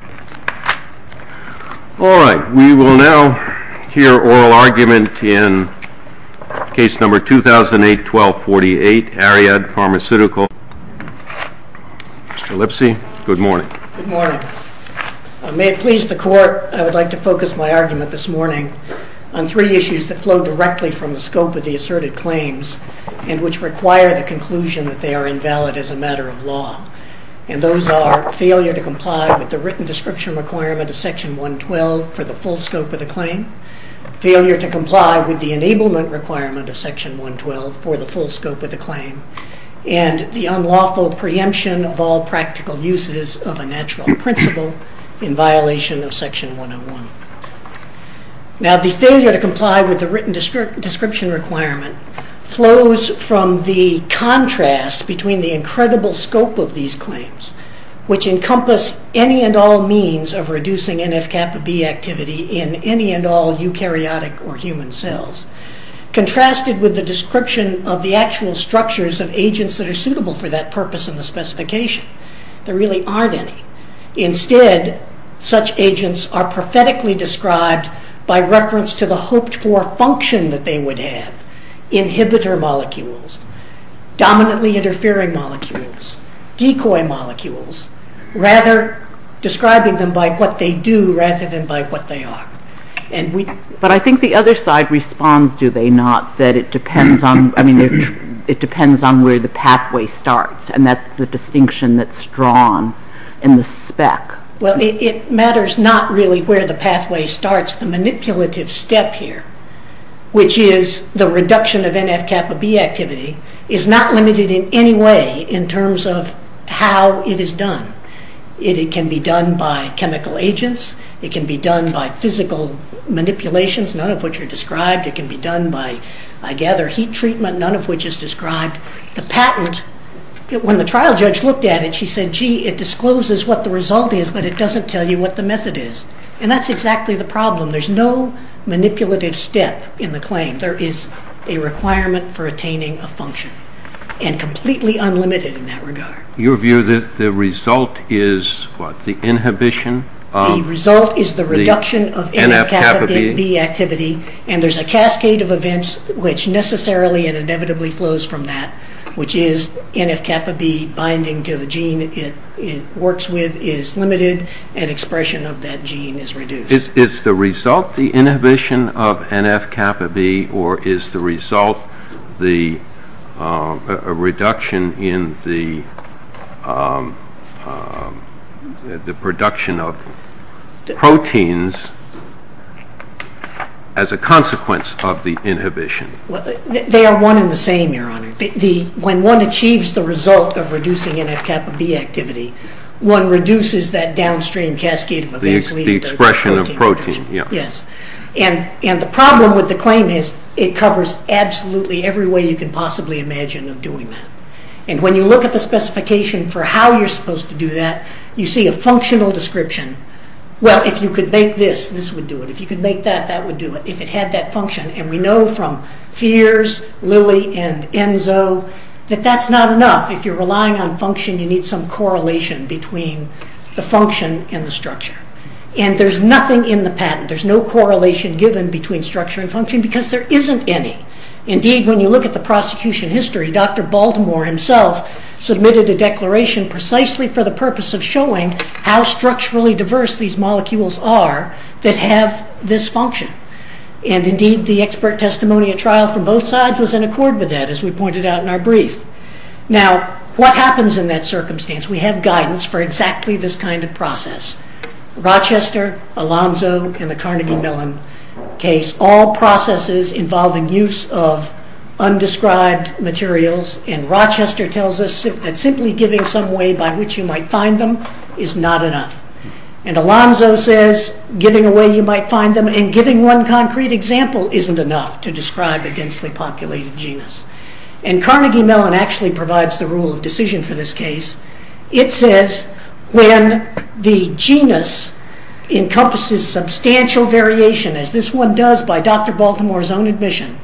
Good morning. May it please the Court, I would like to focus my argument this morning on three issues that flow directly from the scope of the asserted claims and which require the conclusion that they are invalid as a matter of law, and those are failure to comply with the written description requirement of Section 112 for the full scope of the claim, failure to comply with the enablement requirement of Section 112 for the full scope of the claim, and the unlawful preemption of all practical uses of a natural principle in violation of Section 101. Now the failure to comply with the written description requirement flows from the contrast between the incredible scope of these claims, which encompass any and all means of reducing NF-kappa B activity in any and all eukaryotic or human cells, contrasted with the description of the actual structures of agents that are suitable for that purpose in the specification. There really aren't any. Instead, such agents are prophetically described by reference to the hoped-for function that they would have, inhibitor molecules, dominantly interfering molecules, decoy molecules, rather describing them by what they do rather than by what they are. But I think the other side responds, do they not, that it depends on, I mean, it depends on where the pathway starts, and that's the distinction that's drawn in the spec. Well, it matters not really where the pathway starts. The manipulative step here, which is the reduction of NF-kappa B activity, is not limited in any way in terms of how it is done. It can be done by chemical agents. It can be done by physical manipulations, none of which are described. It can be done by, I gather, heat treatment, none of which is described. The patent, when the trial judge looked at it, she said, gee, it discloses what the result is, but it doesn't tell you what the method is. And that's exactly the problem. There's no manipulative step in the claim. There is a requirement for attaining a function, and completely unlimited in that regard. Your view that the result is, what, the inhibition of the NF-kappa B? The result is the reduction of NF-kappa B activity, and there's a cascade of events which necessarily and inevitably flows from that, which is NF-kappa B binding to the gene. The gene it works with is limited, and expression of that gene is reduced. Is the result the inhibition of NF-kappa B, or is the result the reduction in the production of proteins as a consequence of the inhibition? They are one and the same, Your Honor. When one achieves the result of reducing NF-kappa B activity, one reduces that downstream cascade of events. The expression of protein, yes. And the problem with the claim is, it covers absolutely every way you can possibly imagine of doing that. And when you look at the specification for how you're supposed to do that, you see a functional description. Well, if you could make this, this would do it. If you could make that, that would do it. If it had that function, and we know from Fears, Lilly, and Enzo, that that's not enough. If you're relying on function, you need some correlation between the function and the structure. And there's nothing in the patent, there's no correlation given between structure and function, because there isn't any. Indeed, when you look at the prosecution history, Dr. Baltimore himself submitted a declaration precisely for the purpose of showing how structurally diverse these molecules are that have this function. And indeed, the expert testimony at trial from both sides was in accord with that, as we pointed out in our brief. Now, what happens in that circumstance? We have guidance for exactly this kind of process. Rochester, Alonzo, and the Carnegie Mellon case, all processes involving use of undescribed materials, and Rochester tells us that simply giving some way by which you might find them is not enough. And Alonzo says giving a way you might find them and giving one concrete example isn't enough to describe a densely populated genus. And Carnegie Mellon actually provides the rule of decision for this case. It says when the genus encompasses substantial variation, as this one does by Dr. Baltimore's own admission,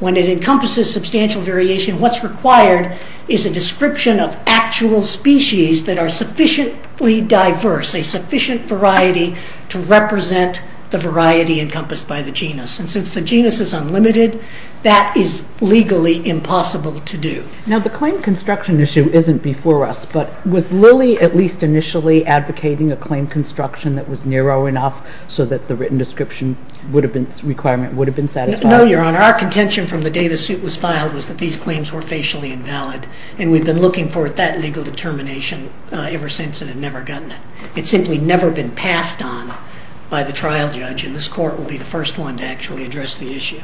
when it encompasses substantial variation, what's required is a description of actual species that are sufficiently diverse, a sufficient variety to represent the variety encompassed by the genus. And since the genus is unlimited, that is legally impossible to do. Now, the claim construction issue isn't before us, but was Lilly at least initially advocating a claim construction that was narrow enough so that the written description requirement would have been satisfied? No, Your Honor. Our contention from the day the suit was filed was that these claims were facially invalid, and we've been looking for that legal determination ever since and have never gotten it. It's simply never been passed on by the trial judge, and this court will be the first one to actually address the issue.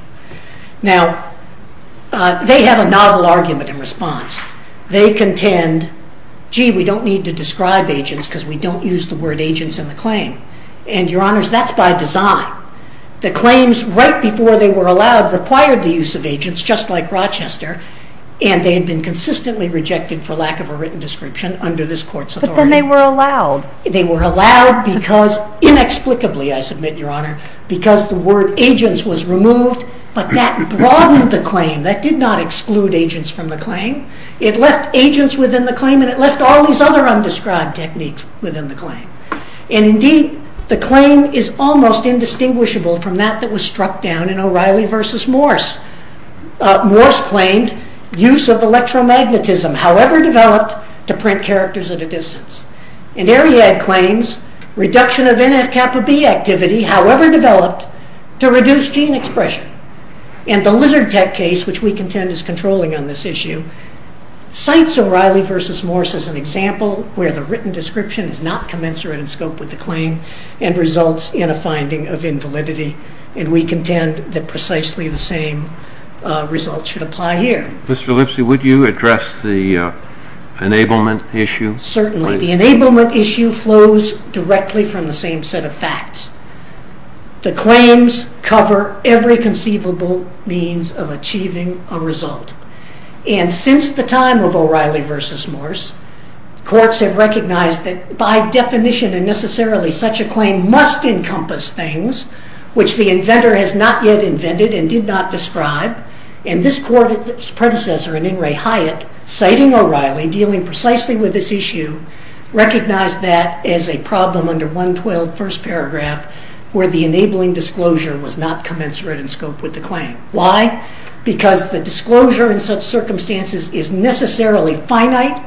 Now, they have a novel argument in response. They contend, gee, we don't need to describe agents because we don't use the word agents in the claim. And, Your Honors, that's by design. The claims right before they were allowed required the use of agents, just like Rochester, and they had been consistently rejected for lack of a written description under this court's authority. But then they were allowed. They were allowed because, inexplicably, I submit, Your Honor, because the word agents was removed, but that broadened the claim. That did not exclude agents from the claim. It left agents within the claim, and it left all these other undescribed techniques within the claim. And, indeed, the claim is almost indistinguishable from that that was struck down in O'Reilly v. Morse. Morse claimed use of electromagnetism, however developed, to print characters at a distance. And Ariad claims reduction of NF-kappa-B activity, however developed, to reduce gene expression. And the Lizard Tech case, which we contend is controlling on this issue, cites O'Reilly v. Morse as an example where the written description is not commensurate in scope with the claim and results in a finding of invalidity. And we contend that precisely the same result should apply here. Mr. Lipsy, would you address the enablement issue? Certainly. The enablement issue flows directly from the same set of facts. The claims cover every conceivable means of achieving a result. And since the time of O'Reilly v. Morse, courts have recognized that by definition and necessarily such a claim must encompass things which the inventor has not yet invented and did not describe. And this court's predecessor in In re Hyatt, citing O'Reilly, dealing precisely with this issue, recognized that as a problem under 112, first paragraph, where the enabling disclosure was not commensurate in scope with the claim. Why? Because the disclosure in such circumstances is necessarily finite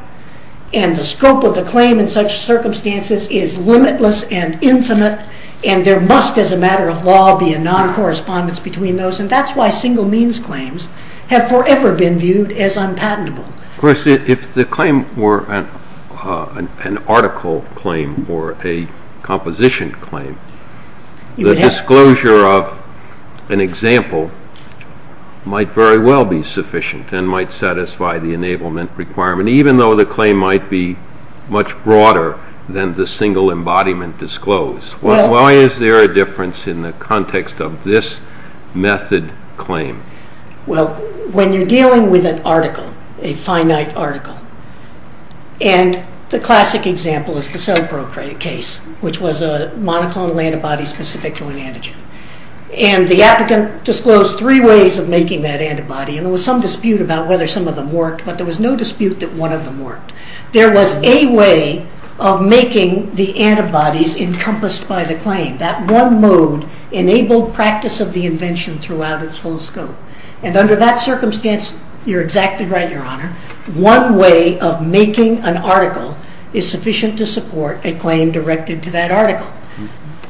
and the scope of the claim in such circumstances is limitless and infinite and there must as a matter of law be a non-correspondence between those. And that's why single means claims have forever been viewed as unpatentable. Of course, if the claim were an article claim or a composition claim, the disclosure of an example might very well be sufficient and might satisfy the enablement requirement, even though the claim might be much broader than the single embodiment disclose. Why is there a difference in the context of this method claim? Well, when you're dealing with an article, a finite article, and the classic example is the CellPro case, which was a monoclonal antibody specific to an antigen. And the applicant disclosed three ways of making that antibody and there was some dispute about whether some of them worked, but there was no dispute that one of them worked. There was a way of making the antibodies encompassed by the claim. That one mode enabled practice of the invention throughout its full scope. And under that circumstance, you're exactly right, Your Honor. One way of making an article is sufficient to support a claim directed to that article.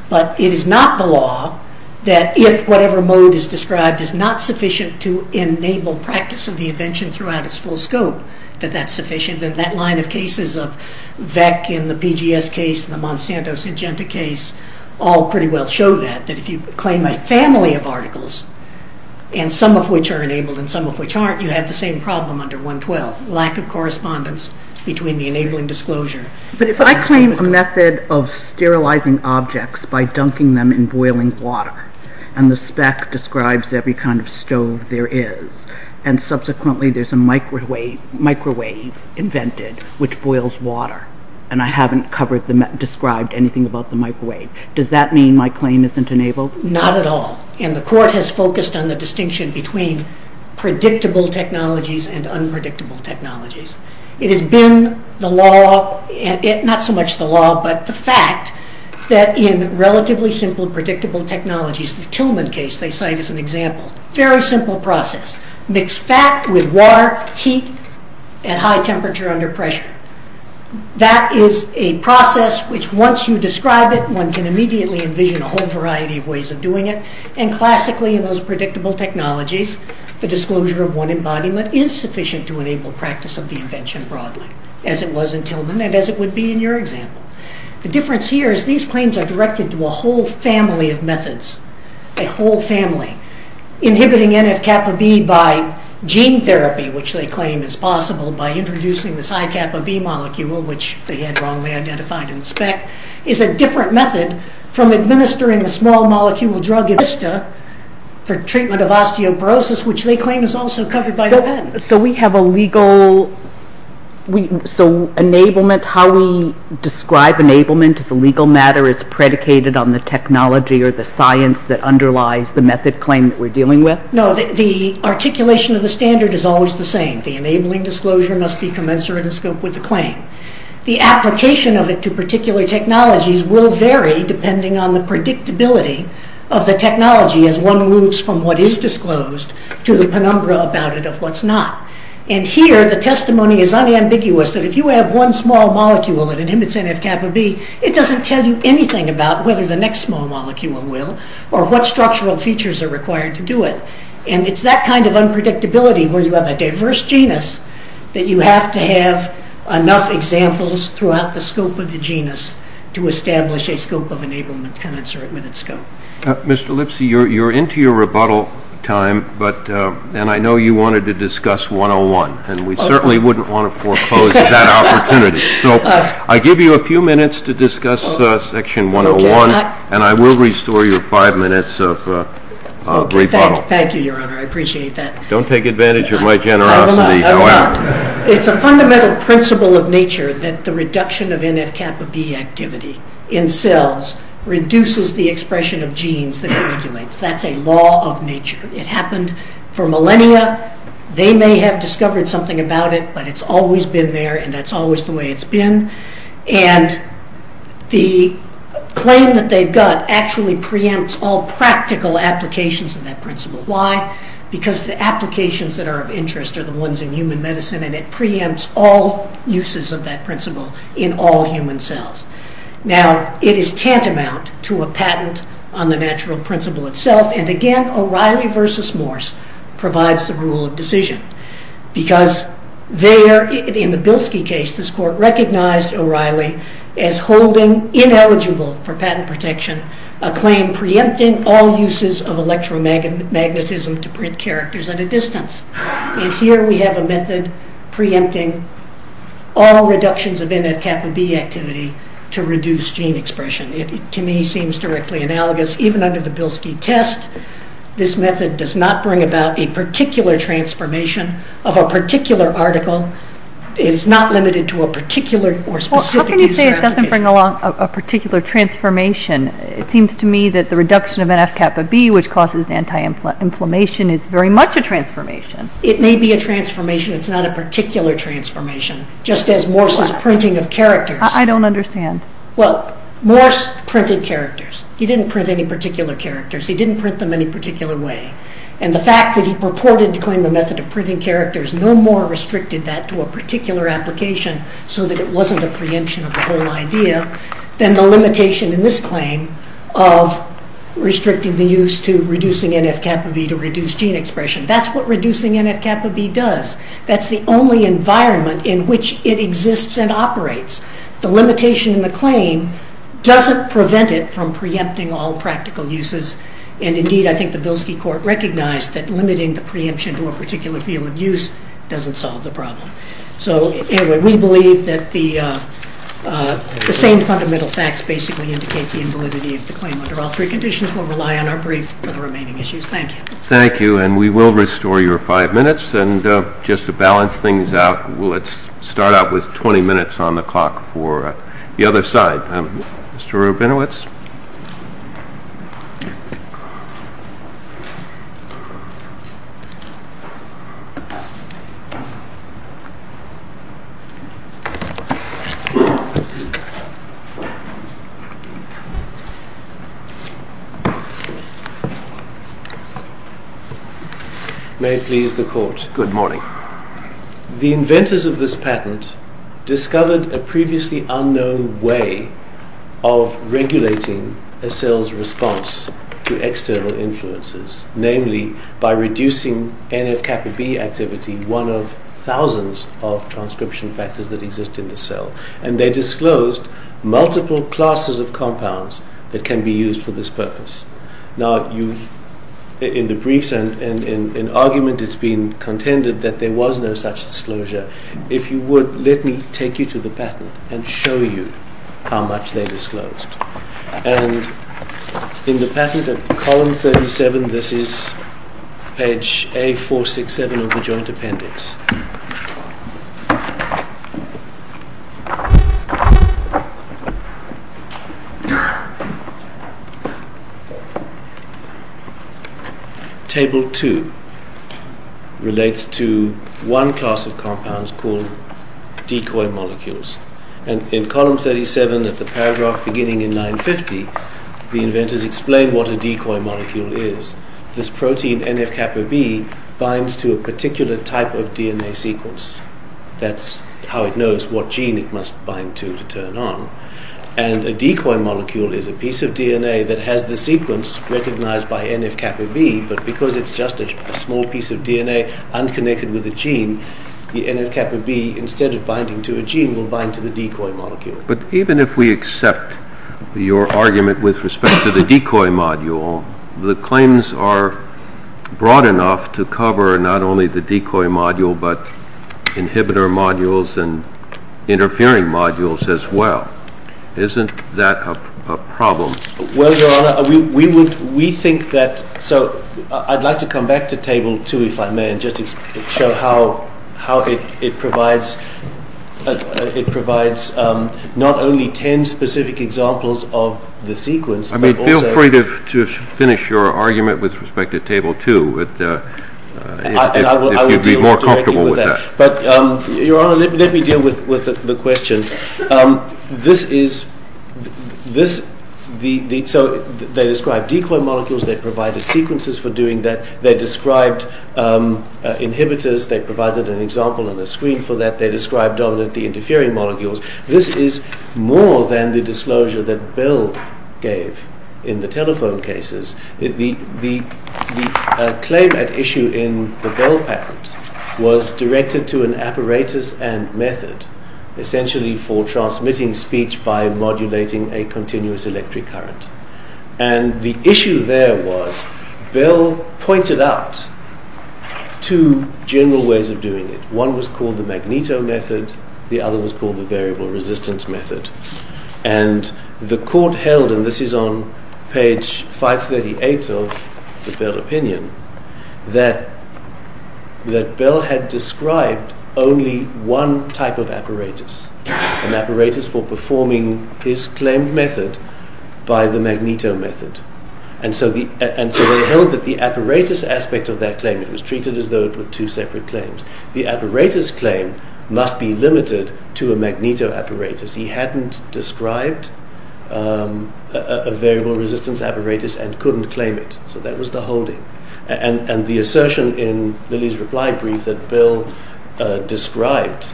But it is not the law that if whatever mode is described is not sufficient to enable practice of the invention throughout its full scope, that that's sufficient. And that line of cases of VEC in the PGS case and the Monsanto Syngenta case all pretty well show that, that if you have two modes, and some of which are enabled and some of which aren't, you have the same problem under 112. Lack of correspondence between the enabling disclosure. But if I claim a method of sterilizing objects by dunking them in boiling water and the spec describes every kind of stove there is, and subsequently there's a microwave invented which boils water, and I haven't described anything about the microwave, does that mean my claim isn't enabled? Not at all. And the court has focused on the distinction between predictable technologies and unpredictable technologies. It has been the law, not so much the law, but the fact that in relatively simple predictable technologies, the Tillman case they cite as an example, very simple process, mix fat with water, heat, at high temperature under pressure. That is a process which once you describe it, one can immediately envision a whole variety of ways of doing it. And classically in those predictable technologies, the disclosure of one embodiment is sufficient to enable practice of the invention broadly, as it was in Tillman and as it would be in your example. The difference here is these claims are directed to a whole family of methods, a whole family. Inhibiting NF-kappa B by gene therapy, which they claim is possible by introducing this high kappa B molecule, which they had wrongly identified in the spec, is a different method from administering a small molecule drug, Yvista, for treatment of osteoporosis, which they claim is also covered by the patent. So we have a legal, so enablement, how we describe enablement as a legal matter is predicated on the technology or the science that underlies the method claim that we are dealing with? No, the articulation of the standard is always the same. The enabling disclosure must be technologies will vary depending on the predictability of the technology as one moves from what is disclosed to the penumbra about it of what's not. And here the testimony is unambiguous that if you have one small molecule that inhibits NF-kappa B, it doesn't tell you anything about whether the next small molecule will or what structural features are required to do it. And it's that kind of unpredictability where you have a diverse genus that you have to have enough examples throughout the scope of the genus to establish a scope of enablement can insert with its scope. Mr. Lipsy, you're into your rebuttal time, and I know you wanted to discuss 101, and we certainly wouldn't want to foreclose that opportunity. So I give you a few minutes to discuss section 101, and I will restore your five minutes of rebuttal. Thank you, Your Honor. I appreciate that. Don't take advantage of my generosity, however. It's a fundamental principle of nature that the reduction of NF-kappa B activity in cells reduces the expression of genes that it regulates. That's a law of nature. It happened for millennia. They may have discovered something about it, but it's always been there, and that's always the way it's been. And the claim that they've got actually preempts all practical applications of that principle. Why? Because the applications that are of interest are the ones in human medicine, and it preempts all uses of that principle in all human cells. Now, it is tantamount to a patent on the natural principle itself, and again, O'Reilly v. Morse provides the rule of decision, because there, in the Bilski case, this court recognized O'Reilly as holding ineligible for patent protection a claim preempting all uses of preempting all reductions of NF-kappa B activity to reduce gene expression. It, to me, seems directly analogous. Even under the Bilski test, this method does not bring about a particular transformation of a particular article. It is not limited to a particular or specific use. Well, how can you say it doesn't bring along a particular transformation? It seems to me that the reduction of NF-kappa B, which causes anti-inflammation, is very much a transformation. It may be a transformation. It is not a particular transformation, just as Morse's printing of characters. I don't understand. Well, Morse printed characters. He didn't print any particular characters. He didn't print them any particular way, and the fact that he purported to claim a method of printing characters no more restricted that to a particular application so that it wasn't a preemption of the whole idea than the limitation in this claim of restricting the use to reducing NF-kappa B to reduce gene expression. That's what reducing NF-kappa B does. That's the only environment in which it exists and operates. The limitation in the claim doesn't prevent it from preempting all practical uses, and indeed, I think the Bilski court recognized that limiting the preemption to a particular field of use doesn't solve the problem. So anyway, we believe that the same fundamental facts basically indicate the invalidity of the claim under all three conditions. We'll rely on our brief for the remaining issues. Thank you. Thank you, and we will restore your five minutes, and just to balance things out, we'll start out with 20 minutes on the clock for the other side. Mr. Rabinowitz? May it please the court. Good morning. The inventors of this patent discovered a previously unknown way of regulating a cell's response to external influences, namely by reducing NF-kappa B activity, one of thousands of transcription factors that exist in the cell, and they disclosed multiple classes of compounds that can be used for this purpose. Now, in the briefs and in argument, it's been contended that there was no such disclosure. If you would, let me take you to the patent and show you how much they disclosed, and in the patent at column 37, this is page A467 of the joint appendix. Table 2 relates to one class of compounds called decoy molecules, and in column 37 at the paragraph beginning in 950, the inventors explain what a decoy molecule is. This protein NF-kappa B binds to a particular type of DNA sequence. That's how it knows what gene it is. A decoy molecule is a piece of DNA that has the sequence recognized by NF-kappa B, but because it's just a small piece of DNA unconnected with a gene, the NF-kappa B, instead of binding to a gene, will bind to the decoy molecule. But even if we accept your argument with respect to the decoy module, the claims are broad enough to cover not only the decoy module, but inhibitor modules and interfering modules as well. Isn't that a problem? Well, Your Honor, we think that, so I'd like to come back to Table 2, if I may, and just show how it provides not only 10 specific examples of the sequence, but also... I mean, feel free to finish your argument with respect to Table 2, if you'd be more comfortable with that. But, Your Honor, let me deal with the question. This is... So, they described decoy molecules, they provided sequences for doing that, they described inhibitors, they provided an example and a screen for that, they described dominantly interfering molecules. This is more than the disclosure that Bell gave in the telephone cases. The claim at issue in the Bell patent was directed to an apparatus and method, essentially for transmitting speech by modulating a continuous electric current. And the issue there was, Bell pointed out two general ways of doing it. One was called the Magneto method, the other was called the Variable Resistance method. And the court held, and this is on page 538 of the Bell opinion, that, that, that the Bell had described only one type of apparatus, an apparatus for performing his claimed method by the Magneto method. And so the, and so they held that the apparatus aspect of that claim, it was treated as though it were two separate claims, the apparatus claim must be limited to a Magneto apparatus. He hadn't described a Variable Resistance apparatus and couldn't claim it. So that was the holding. And, and the assertion in Lillie's reply brief that Bell described.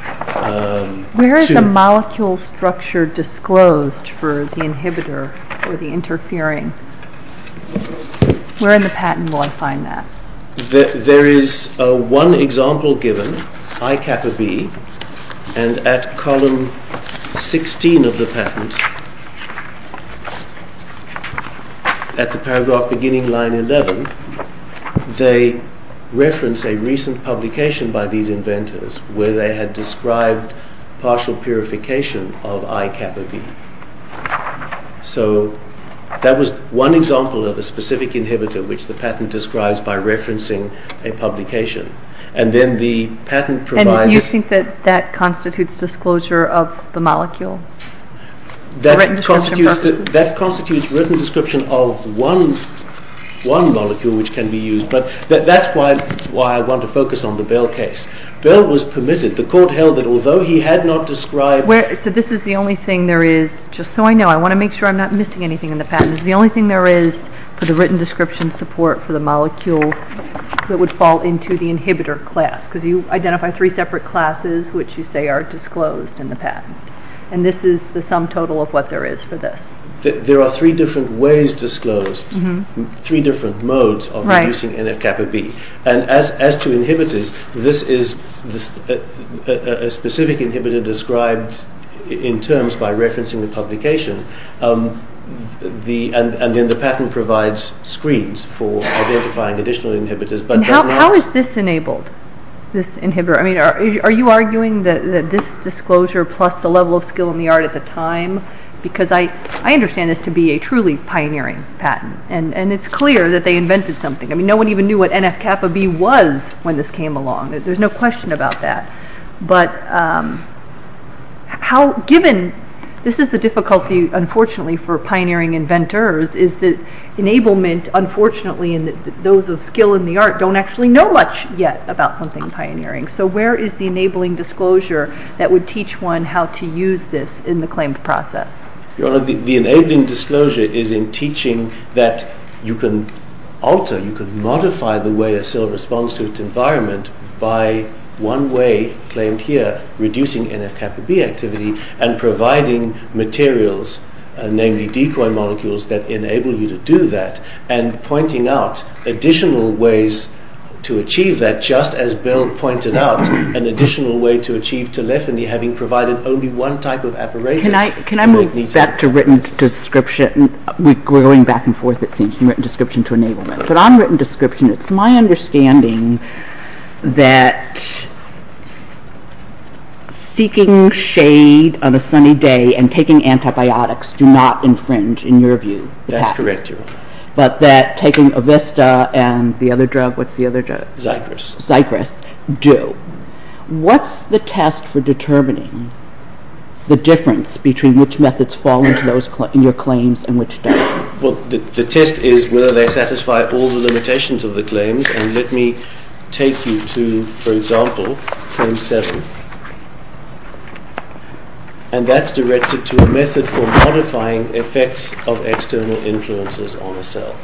Where is the molecule structure disclosed for the inhibitor, for the interfering? Where in the patent will I find that? There is one example given, ICAPA-B, and at column 16 of the patent, at the paragraph beginning line 11, they reference a recent publication by these inventors where they had described partial purification of ICAPA-B. So that was one example of a specific inhibitor which the patent describes by referencing a publication. And then the patent provides. And you think that, that constitutes disclosure of the molecule? That constitutes, that constitutes written description of one, one molecule which can be used. But that, that's why, why I want to focus on the Bell case. Bell was permitted, the court held that although he had not described. Where, so this is the only thing there is, just so I know, I want to make sure I'm not missing anything in the patent, is the only thing there is for the written description support for the molecule that would fall into the inhibitor class. Because you identify three separate classes which you say are disclosed in the patent. And this is the sum total of what there is for this. There are three different ways disclosed, three different modes of using NF-CAPA-B. And as, as to inhibitors, this is a specific inhibitor described in terms by referencing the publication. The, and the patent provides screens for identifying additional inhibitors. But how, how is this enabled? This inhibitor, I mean are, are you arguing that this disclosure plus the level of skill in the art at the time? Because I, I understand this to be a truly pioneering patent. And, and it's clear that they invented something. I mean no one even knew what NF-CAPA-B was when this came along. There's no question about that. But how, given, this is the difficulty unfortunately for pioneering inventors is that enablement, unfortunately in the, those of skill in the art don't actually know much yet about something pioneering. So where is the enabling disclosure that would teach one how to use this in the claimed process? Your Honor, the, the enabling disclosure is in teaching that you can alter, you can modify the way a cell responds to its environment by one way, claimed here, reducing NF-CAPA-B activity and providing materials, namely decoy molecules that enable you to do that and pointing out additional ways to achieve that, just as Bill pointed out, an additional way to achieve telephony having provided only one type of apparatus. Can I, can I move back to written description? We're going back and forth it seems from written description to enablement. But on written description, it's my understanding that seeking shade on a sunny day and taking antibiotics do not infringe, in your view, the patent. That's correct, Your Honor. But that taking Avista and the other drug, what's the other drug? Zypress. Zypress do. What's the test for determining the difference between which methods fall into those, in your claims and which don't? Well, the test is whether they satisfy all the limitations of the claims and let me take you to, for example, Claim 7. And that's directed to a method for modifying effects of external influences on a cell.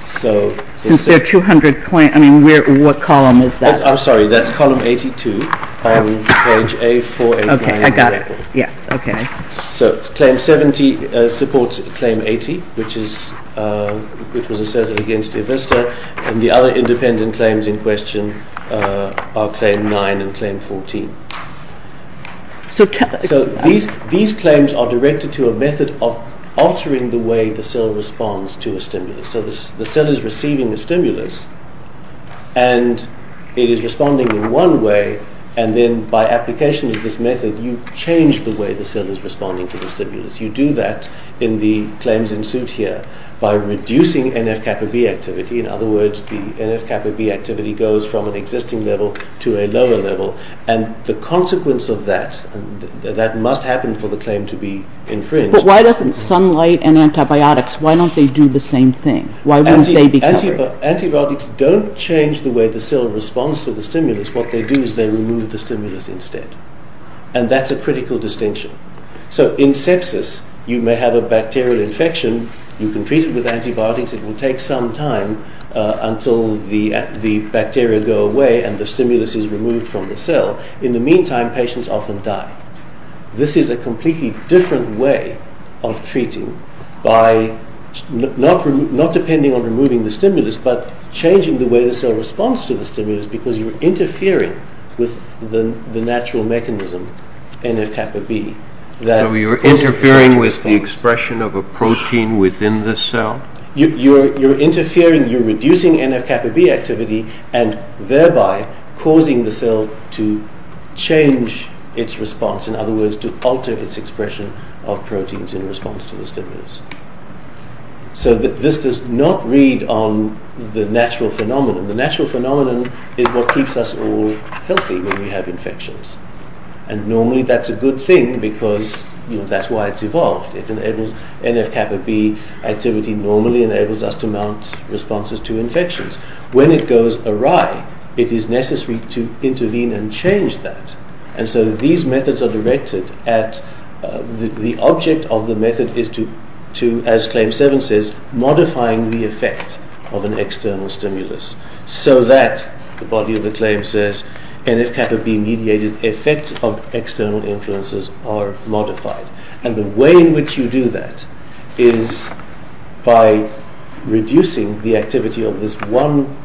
Since there are 200 claims, I mean, what column is that? I'm sorry, that's Column 82 on Page A for a blind example. Okay, I got it. Yes, okay. So Claim 70 supports Claim 80, which is, which was asserted against Avista and the other independent claims in question are Claim 9 and Claim 14. So these claims are directed to a method of altering the way the cell responds to a stimulus. So the cell is receiving a stimulus and it is responding in one way and then by application of this method, you change the way the cell is responding to the stimulus. You do that in the claims in suit here by reducing NF-kappa B activity, in other words, the NF-kappa B activity goes from an existing level to a lower level and the consequence of that, that must happen for the claim to be infringed. But why doesn't sunlight and antibiotics, why don't they do the same thing? Why wouldn't they be covered? Antibiotics don't change the way the cell responds to the stimulus. What they do is they remove the stimulus instead and that's a critical distinction. So in sepsis, you may have a bacterial infection, you can treat it with antibiotics, it will take some time until the bacteria go away and the stimulus is removed from the cell. In the meantime, patients often die. This is a completely different way of treating by not depending on removing the stimulus but changing the way the cell responds to the stimulus because you are interfering with the natural mechanism, NF-kappa B. So you are interfering with the expression of a protein within the cell? You are interfering, you are reducing NF-kappa B activity and thereby causing the cell to change its response, in other words, to alter its expression of proteins in response to the stimulus. So this does not read on the natural phenomenon. The natural phenomenon is what keeps us all healthy when we have infections. And normally that's a good thing because, you know, that's why it's evolved. It enables NF-kappa B activity normally enables us to mount responses to infections. When it goes awry, it is necessary to intervene and change that. And so these methods are directed at the object of the method is to, as Claim 7 says, modifying the effect of an external stimulus so that, the body of the claim says, NF-kappa B mediated effects of external influences are modified. And the way in which you do that is by reducing the activity of this one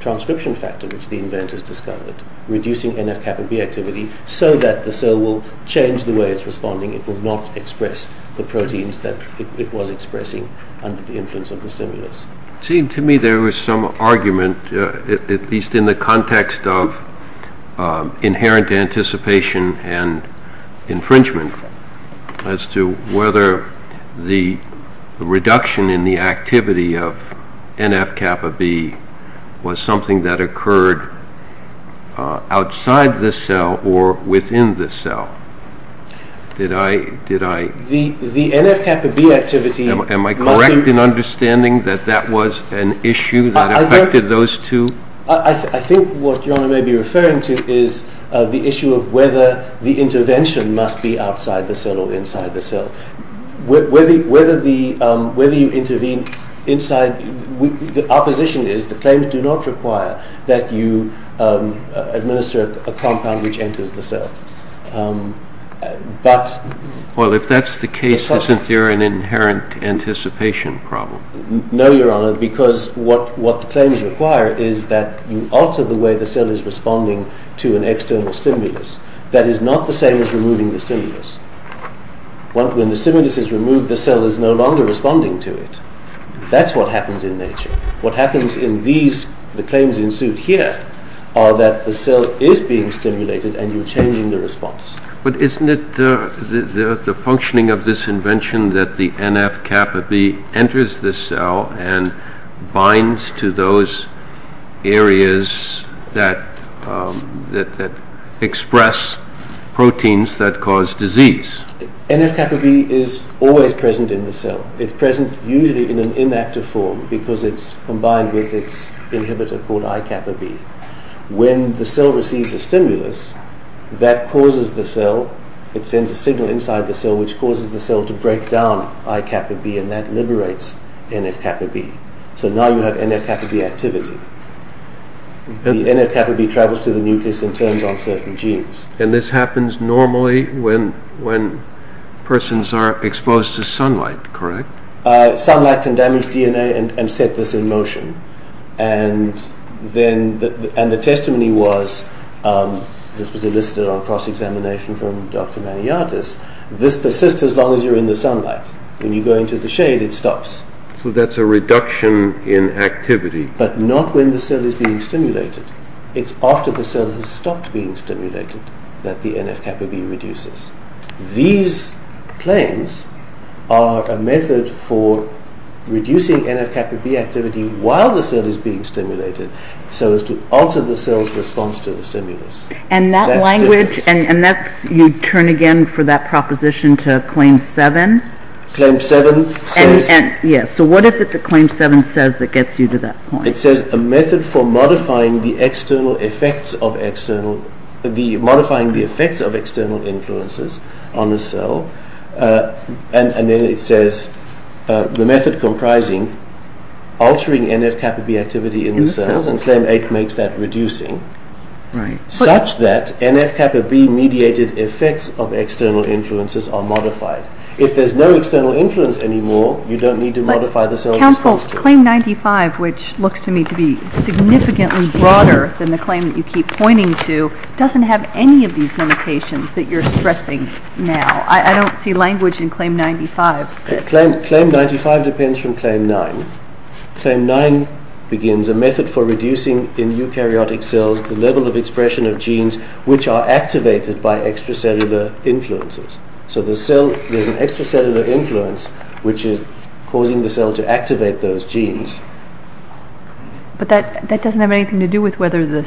transcription factor which the inventors discovered, reducing NF-kappa B activity so that the cell will change the way it's responding. It will not express the proteins that it was expressing under the influence of the stimulus. It seemed to me there was some argument, at least in the context of inherent anticipation and infringement, as to whether the reduction in the activity of NF-kappa B was something that occurred outside the cell or within the cell. Did I, did I... The NF-kappa B activity... Am I correct in understanding that that was an issue that affected those two? I think what your honor may be referring to is the issue of whether the intervention must be outside the cell or inside the cell. Whether the, whether you intervene inside, our position is the claims do not require that you administer a compound which enters the cell. But... Well, if that's the case, isn't there an inherent anticipation problem? No, your honor, because what the claims require is that you alter the way the cell is responding to an external stimulus that is not the same as removing the stimulus. When the stimulus is removed, the cell is no longer responding to it. That's what happens in nature. What happens in these, the claims in suit here, are that the cell is being stimulated and you're changing the response. But isn't it the functioning of this invention that the NF-kappa B enters the cell and binds to those areas that express proteins that cause disease? NF-kappa B is always present in the cell. It's present usually in an inactive form because it's combined with its inhibitor called I-kappa B. When the cell receives a stimulus, that causes the cell, it sends a signal inside the cell which causes the cell to break down I-kappa B and that liberates NF-kappa B. So now you have NF-kappa B activity. The NF-kappa B travels to the nucleus and turns on certain genes. And this happens normally when persons are exposed to sunlight, correct? Sunlight can damage DNA and set this in motion. And the testimony was, this was elicited on a cross-examination from Dr. Maniatis, this persists as long as you're in the sunlight. When you go into the shade, it stops. So that's a reduction in activity. But not when the cell is being stimulated. It's after the cell has stopped being stimulated that the NF-kappa B reduces. These claims are a method for reducing NF-kappa B activity while the cell is being stimulated so as to alter the cell's response to the stimulus. And that language, and that's, you turn again for that proposition to Claim 7? Claim 7 says... Yes, so what is it that Claim 7 says that gets you to that point? It says a method for modifying the external effects of external, modifying the effects of external influences on the cell. And then it says the method comprising altering NF-kappa B activity in the cells, and Claim 8 makes that reducing, such that NF-kappa B mediated effects of external influences are modified. If there's no external influence anymore, you don't need to modify the cell's response to it. But Claim 95, which looks to me to be significantly broader than the claim that you keep pointing to, doesn't have any of these limitations that you're stressing now. I don't see language in Claim 95. Claim 95 depends from Claim 9. Claim 9 begins, a method for reducing in eukaryotic cells the level of expression of genes which are activated by extracellular influences. So the cell, there's an extracellular influence which is causing the cell to activate those genes. But that doesn't have anything to do with whether the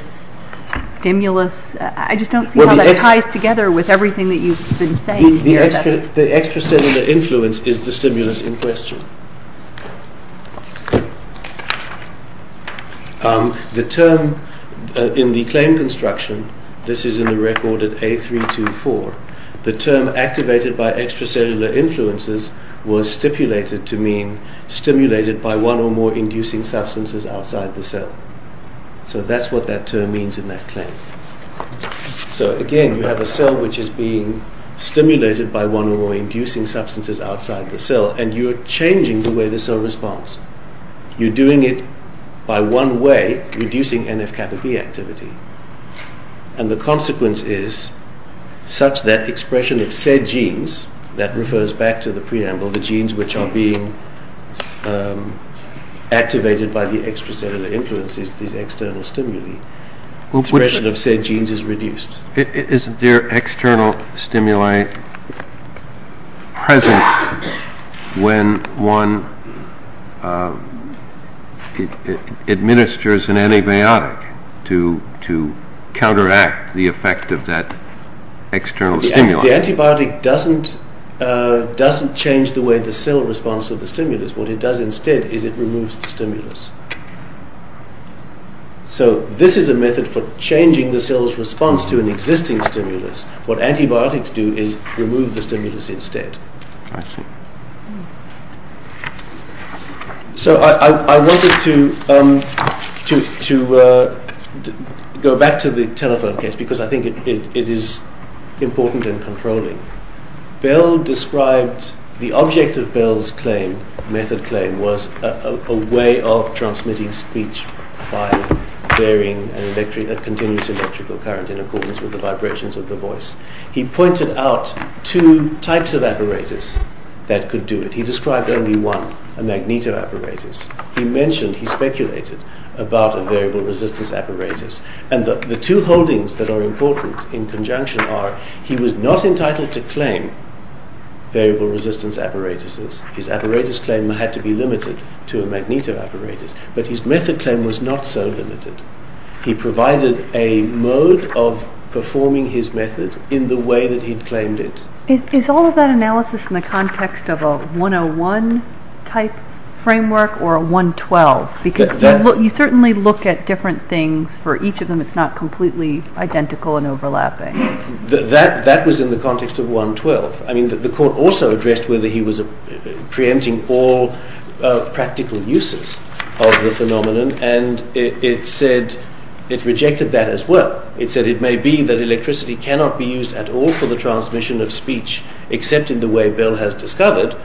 stimulus... I just don't see how that ties together with everything that you've been saying here. The extracellular influence is the stimulus in question. The term in the claim construction, this is in the record at A324, the term activated by extracellular influences was stipulated to mean stimulated by one or more inducing substances outside the cell. So that's what that term means in that claim. So again, you have a cell which is being stimulated by one or more inducing substances outside the cell, and you're changing the way the cell responds. You're doing it by one way, reducing NF-kappa B activity. And the consequence is such that expression of said genes, that refers back to the preamble, the genes which are being activated by the extracellular influences, these external stimuli, expression of said genes is reduced. Isn't there external stimuli present when one administers an antibiotic to counteract the effect of that external stimuli? The antibiotic doesn't change the way the cell responds to the stimulus. What it does instead is it removes the stimulus. So this is a method for changing the cell's response to an existing stimulus. What antibiotics do is remove the stimulus instead. So I wanted to go back to the telephone case because I think it is important in controlling. Bell described, the object of Bell's claim, method claim, was a way of transmitting speech by varying a continuous electrical current in accordance with the vibrations of the voice. He pointed out two types of apparatus that could do it. He described only one, a magneto-apparatus. He mentioned, he speculated, about a variable resistance apparatus. The two holdings that are important in conjunction are, he was not entitled to claim variable resistance apparatuses. His apparatus claim had to be limited to a magneto-apparatus. But his method claim was not so limited. He provided a mode of performing his method in the way that he claimed it. Is all of that analysis in the context of a 101 type framework or a 112? You certainly look at different things for each of them. It is not completely identical and overlapping. That was in the context of 112. The court also addressed whether he was pre-empting all practical uses of the phenomenon. And it said, it rejected that as well. It said it may be that electricity cannot be used at all for the transmission of speech except in the way Bell has discovered.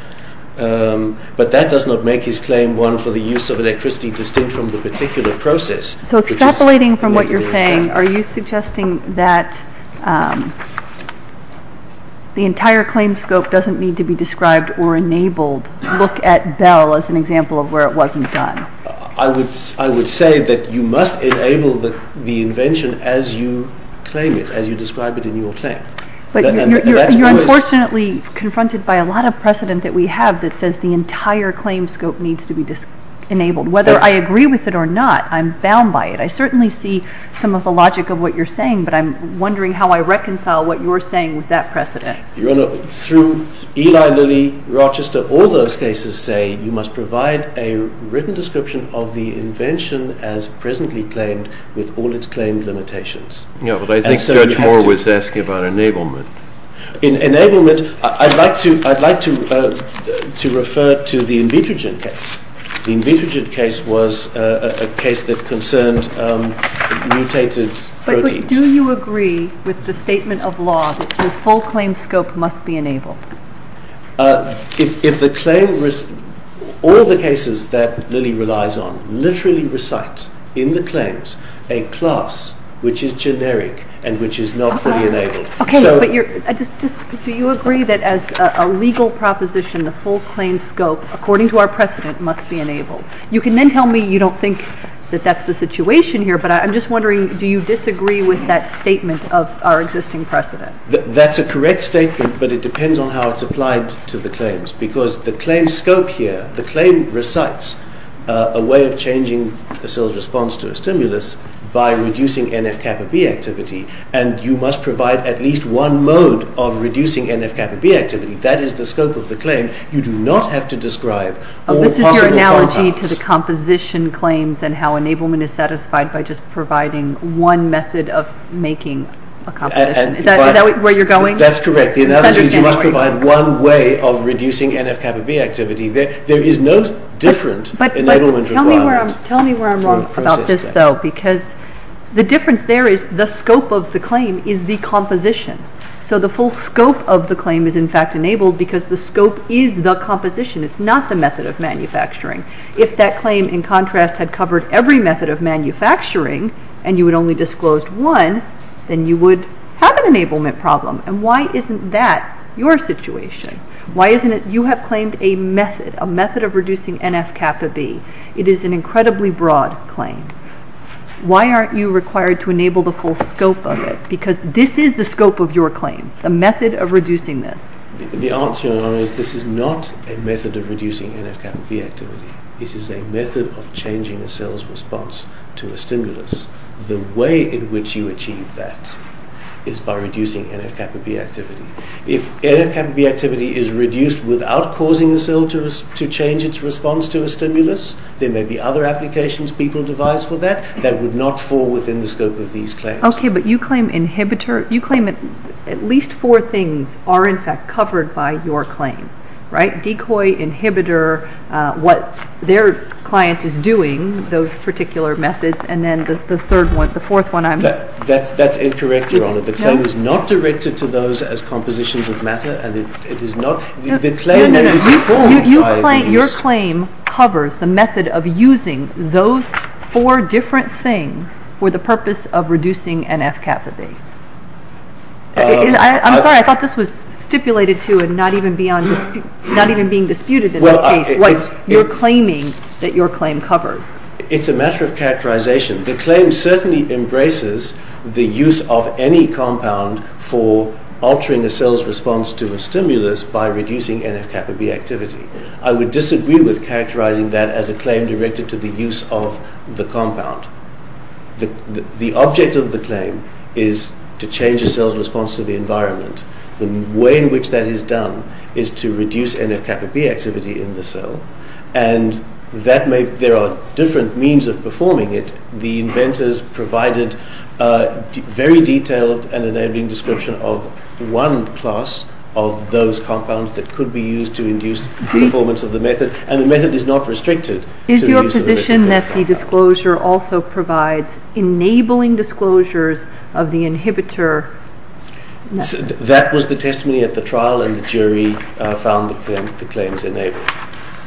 But that does not make his claim one for the use of electricity distinct from the particular process. So extrapolating from what you're saying, are you suggesting that the entire claim scope doesn't need to be described or enabled? Look at Bell as an example of where it wasn't done. I would say that you must enable the invention as you claim it, as you describe it in your claim. But you're unfortunately confronted by a lot of precedent that we have that says the entire claim scope needs to be enabled. Whether I agree with it or not, I'm bound by it. I certainly see some of the logic of what you're saying, but I'm wondering how I reconcile what you're saying with that precedent. Your Honor, through Eli Lilly, Rochester, all those cases say you must provide a written description of the invention as presently claimed with all its claimed limitations. Yeah, but I think Judge Moore was asking about enablement. In enablement, I'd like to refer to the Invitrogen case. The Invitrogen case was a case that concerned mutated proteins. But do you agree with the statement of law that the full claim scope must be enabled? All the cases that Lilly relies on literally recite in the claims a class which is generic and which is not fully enabled. Okay, but do you agree that as a legal proposition, the full claim scope, according to our precedent, must be enabled? You can then tell me you don't think that that's the situation here, but I'm just wondering, do you disagree with that statement of our existing precedent? That's a correct statement, but it depends on how it's applied to the claims. Because the claim scope here, the claim recites a way of changing a cell's response to a stimulus by reducing NF-kappa-B activity, and you must provide at least one mode of reducing NF-kappa-B activity. That is the scope of the claim. You do not have to describe all the possible compounds. This is your analogy to the composition claims and how enablement is satisfied by just providing one method of making a composition. Is that where you're going? That's correct. The analogy is you must provide one way of reducing NF-kappa-B activity. There is no different enablement requirement. Tell me where I'm wrong about this, though, because the difference there is the scope of the claim is the composition. So the full scope of the claim is in fact enabled because the scope is the composition. It's not the method of manufacturing. If that claim, in contrast, had covered every method of manufacturing, and you had only disclosed one, then you would have an enablement problem. And why isn't that your situation? Why isn't it you have claimed a method, a method of reducing NF-kappa-B? It is an incredibly broad claim. Why aren't you required to enable the full scope of it? Because this is the scope of your claim, the method of reducing this. The answer is this is not a method of reducing NF-kappa-B activity. It is a method of changing a cell's response to a stimulus. The way in which you achieve that is by reducing NF-kappa-B activity. If NF-kappa-B activity is reduced without causing the cell to change its response to a stimulus, there may be other applications people devise for that that would not fall within the scope of these claims. Okay, but you claim inhibitor. You claim at least four things are in fact covered by your claim, right? Decoy, inhibitor, what their client is doing, those particular methods, and then the third one, the fourth one I'm... That's incorrect, Your Honor. The claim is not directed to those as compositions of matter and it is not... Your claim covers the method of using those four different things for the purpose of reducing NF-kappa-B. I'm sorry, I thought this was stipulated to and not even being disputed in that case. You're claiming that your claim covers. It's a matter of characterization. The claim certainly embraces the use of any compound for altering a cell's response to a stimulus by reducing NF-kappa-B activity. I would disagree with characterizing that as a claim directed to the use of the compound. The object of the claim is to change a cell's response to the environment. The way in which that is done is to reduce NF-kappa-B activity in the cell and there are different means of performing it. The inventors provided a very detailed and enabling description of one class of those compounds that could be used to induce performance of the method and the method is not restricted to the use of NF-kappa-B. Is your position that the disclosure also provides enabling disclosures of the inhibitor? That was the testimony at the trial and the jury found the claims enabled.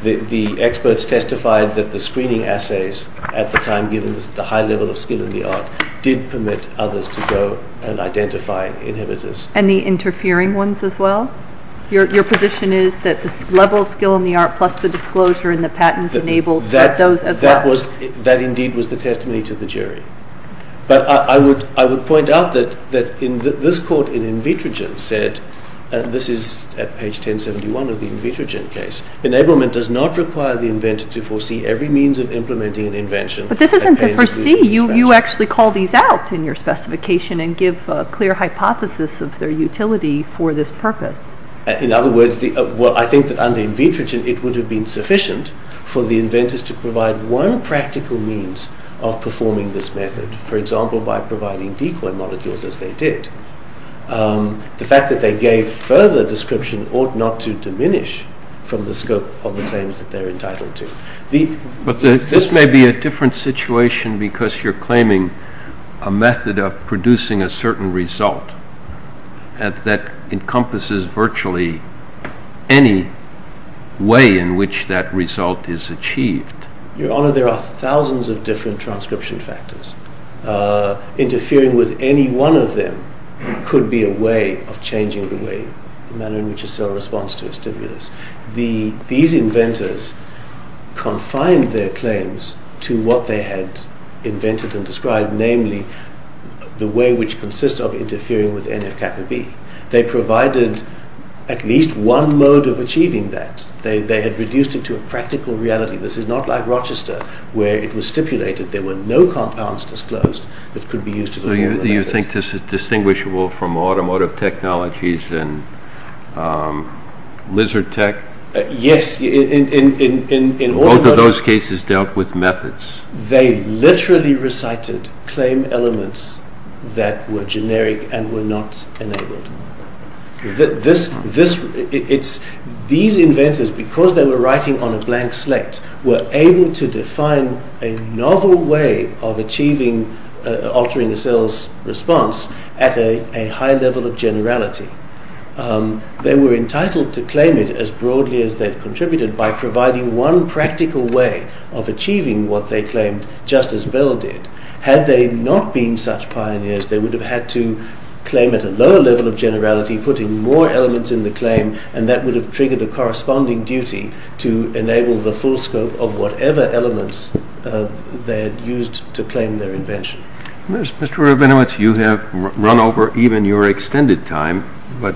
The experts testified that the screening assays at the time given the high level of skill in the art did permit others to go and identify inhibitors. And the interfering ones as well? Your position is that the level of skill in the art plus the disclosure and the patents enabled those as well? That indeed was the testimony to the jury. But I would point out that this court in Invitrogen said, and this is at page 1071 of the Invitrogen case, enablement does not require the inventor to foresee every means of implementing an invention. But this isn't to foresee, you actually call these out in your specification and give a clear hypothesis of their utility for this purpose. In other words, I think that under Invitrogen it would have been sufficient for the inventors to provide one practical means of performing this method, for example by providing decoy molecules as they did. The fact that they gave further description ought not to diminish from the scope of the claims that they're entitled to. But this may be a different situation because you're claiming a method of producing a certain result that encompasses virtually any way in which that result is achieved. Your Honor, there are thousands of different transcription factors. Interfering with any one of them could be a way of changing the way the manner in which a cell responds to a stimulus. These inventors confined their claims to what they had invented and described, namely the way which consists of interfering with NFKB. They provided at least one mode of achieving that. They had reduced it to a practical reality. This is not like Rochester, where it was stipulated there were no compounds disclosed that could be used to perform the method. Do you think this is distinguishable from automotive technologies and lizard tech? Yes. Both of those cases dealt with methods. They literally recited claim elements that were generic and were not enabled. These inventors, because they were writing on a blank slate, were able to define a novel way of altering a cell's response at a high level of generality. They were entitled to claim it as broadly as they contributed by providing one practical way of achieving what they claimed, just as Bell did. Had they not been such pioneers, they would have had to claim at a lower level of generality, putting more elements in the claim, and that would have triggered a corresponding duty to enable the full scope of whatever elements they had used to claim their invention. Mr. Rabinowitz, you have run over even your extended time, but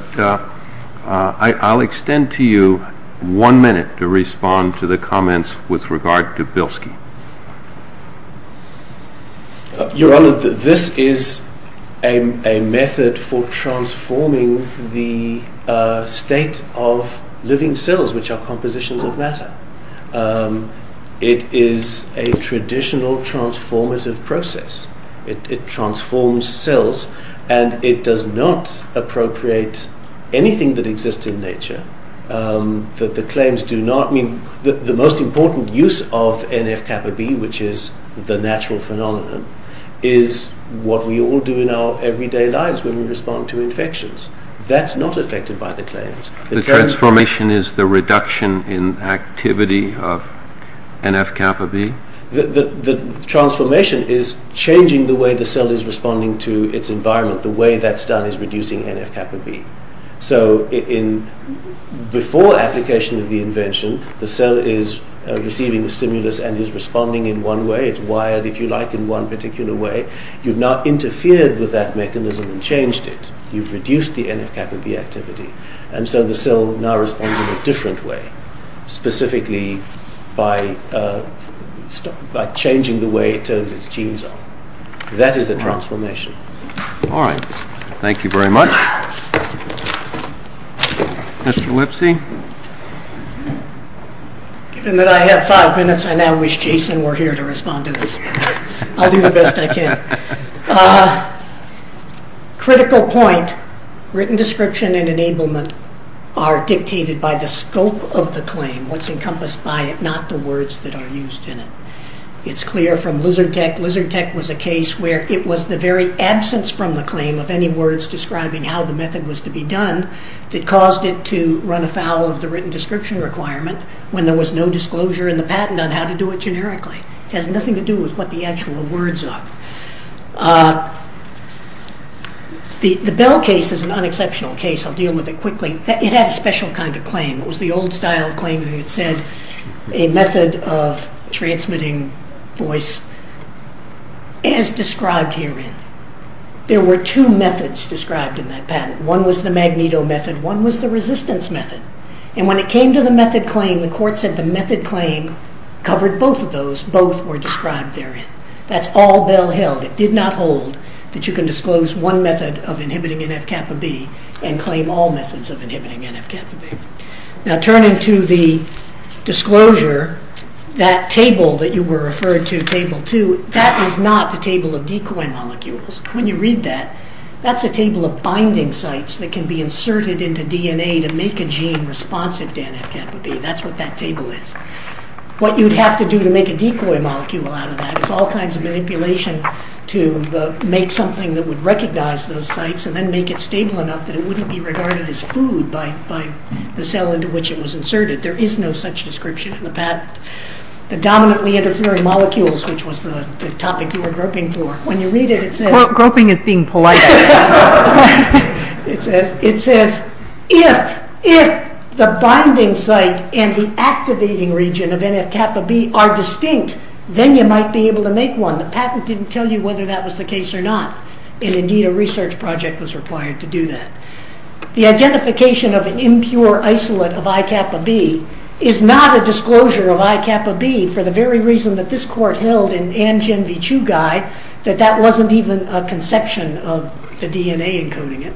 I'll extend to you one minute to respond to the comments with regard to Bilsky. Your Honor, this is a method for transforming the state of living cells, which are compositions of matter. It is a traditional transformative process. It transforms cells, and it does not appropriate anything that exists in nature. The most important use of NF-kappa-B, which is the natural phenomenon, is what we all do in our everyday lives when we respond to infections. That's not affected by the claims. The transformation is the reduction in activity of NF-kappa-B? The transformation is changing the way the cell is responding to its environment. The way that's done is reducing NF-kappa-B. Before application of the invention, the cell is receiving a stimulus and is responding in one way. It's wired, if you like, in one particular way. You've now interfered with that mechanism and changed it. You've reduced the NF-kappa-B activity. The cell now responds in a different way, specifically by changing the way it turns its genes on. That is a transformation. All right. Thank you very much. Mr. Lipsy? Given that I have five minutes, I now wish Jason were here to respond to this. I'll do the best I can. Critical point. Written description and enablement are dictated by the scope of the claim. What's encompassed by it, not the words that are used in it. It's clear from Lizard Tech. Lizard Tech was a case where it was the very absence from the claim of any words describing how the method was to be done that caused it to run afoul of the written description requirement when there was no disclosure in the patent on how to do it generically. It has nothing to do with what the actual words are. The Bell case is an unexceptional case. I'll deal with it quickly. It had a special kind of claim. It was the old style claim that said a method of transmitting voice as described herein. There were two methods described in that patent. One was the magneto method. One was the resistance method. When it came to the method claim, the court said the method claim covered both of those. Both were described therein. That's all Bell held. It did not hold that you can disclose one method of inhibiting NF-kappa-B and claim all methods of inhibiting NF-kappa-B. Now turning to the disclosure, that table that you were referred to, Table 2, that is not the table of decoy molecules. When you read that, that's a table of binding sites that can be inserted into DNA to make a gene responsive to NF-kappa-B. That's what that table is. What you'd have to do to make a decoy molecule out of that is all kinds of manipulation to make something that would recognize those sites and then make it stable enough that it wouldn't be regarded as food by the cell into which it was inserted. There is no such description in the patent. The dominantly interfering molecules, which was the topic you were groping for, when you read it, it says... Groping is being polite. It says, if the binding site and the activating region of NF-kappa-B are distinct, then you might be able to make one. The patent didn't tell you whether that was the case or not. Indeed, a research project was required to do that. The identification of an impure isolate of I-kappa-B is not a disclosure of I-kappa-B for the very reason that this court held in Anjin-Vichugai that that wasn't even a conception of the DNA encoding it.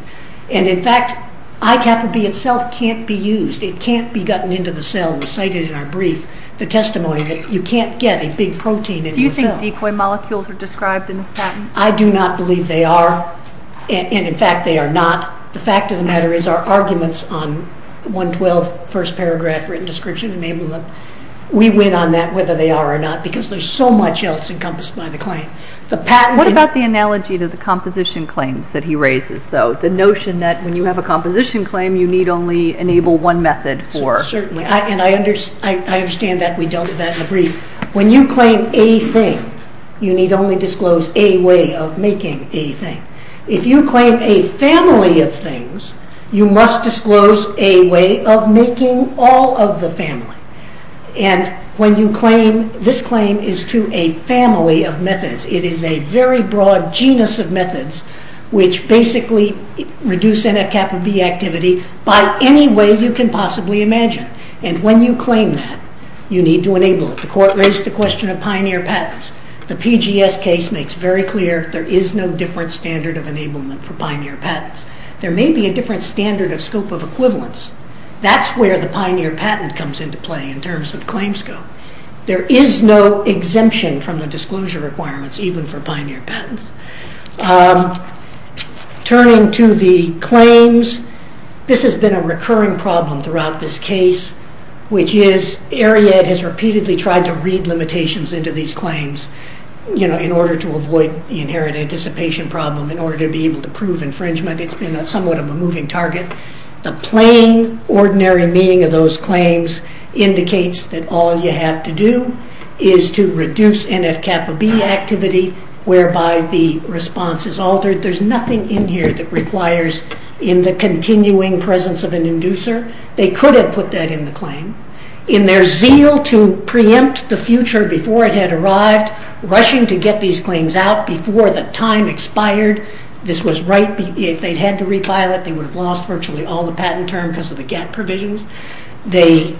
In fact, I-kappa-B itself can't be used. It can't be gotten into the cell and recited in our brief the testimony that you can't get a big protein in the cell. Do you think decoy molecules are described in this patent? I do not believe they are. In fact, they are not. The fact of the matter is our arguments on 112, first paragraph, written description enablement, we win on that whether they are or not because there's so much else encompassed by the claim. What about the analogy to the composition claims that he raises, though? The notion that when you have a composition claim, you need only enable one method for... Certainly. And I understand that we dealt with that in the brief. When you claim a thing, you need only disclose a way of making a thing. If you claim a family of things, you must disclose a way of making all of the family. And when you claim... This claim is to a family of methods. It is a very broad genus of methods which basically reduce NF-kappa-B activity by any way you can possibly imagine. And when you claim that, you need to enable it. The court raised the question of Pioneer patents. The PGS case makes very clear there is no different standard of enablement for Pioneer patents. There may be a different standard of scope of equivalence. That's where the Pioneer patent comes into play in terms of claim scope. There is no exemption from the disclosure requirements even for Pioneer patents. Turning to the claims, this has been a recurring problem throughout this case, which is Ariad has repeatedly tried to read limitations into these claims, you know, in order to avoid the inherent anticipation problem, in order to be able to prove infringement. It's been somewhat of a moving target. The plain, ordinary meaning of those claims indicates that all you have to do is to reduce NF-kappa-B activity, whereby the response is altered. There's nothing in here that requires in the continuing presence of an inducer. They could have put that in the claim. In their zeal to preempt the future before it had arrived, rushing to get these claims out before the time expired, this was right... If they'd had to re-file it, they would have lost virtually all the patent term because of the GATT provisions. They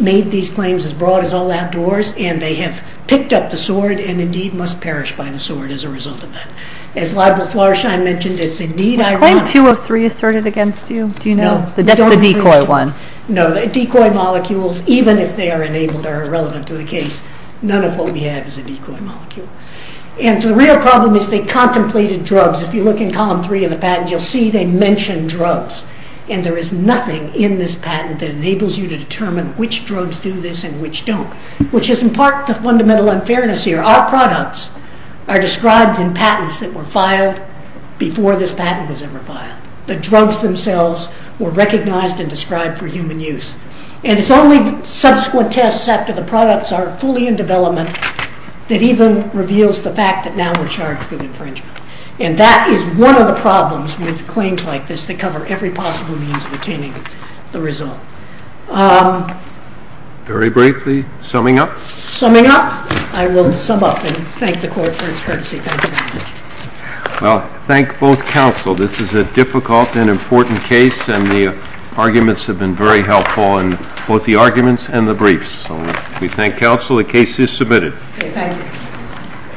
made these claims as broad as all outdoors, and they have picked up the sword, and indeed must perish by the sword as a result of that. As Libel Florschein mentioned, it's indeed ironic... The claim 203 asserted against you, do you know? No. That's the decoy one. No, the decoy molecules, even if they are enabled, are irrelevant to the case. None of what we have is a decoy molecule. And the real problem is they contemplated drugs. If you look in column three of the patent, you'll see they mention drugs. And there is nothing in this patent that enables you to determine which drugs do this and which don't, which is in part the fundamental unfairness here. Our products are described in patents that were filed before this patent was ever filed. The drugs themselves were recognized and described for human use. And it's only subsequent tests after the products are fully in development that even reveals the fact that now we're charged with infringement. And that is one of the problems with claims like this that cover every possible means of obtaining the result. Very briefly, summing up? Summing up? I will sum up and thank the Court for its courtesy. Well, thank both counsel. This is a difficult and important case and the arguments have been very helpful, both the arguments and the briefs. We thank counsel. The case is submitted. Thank you.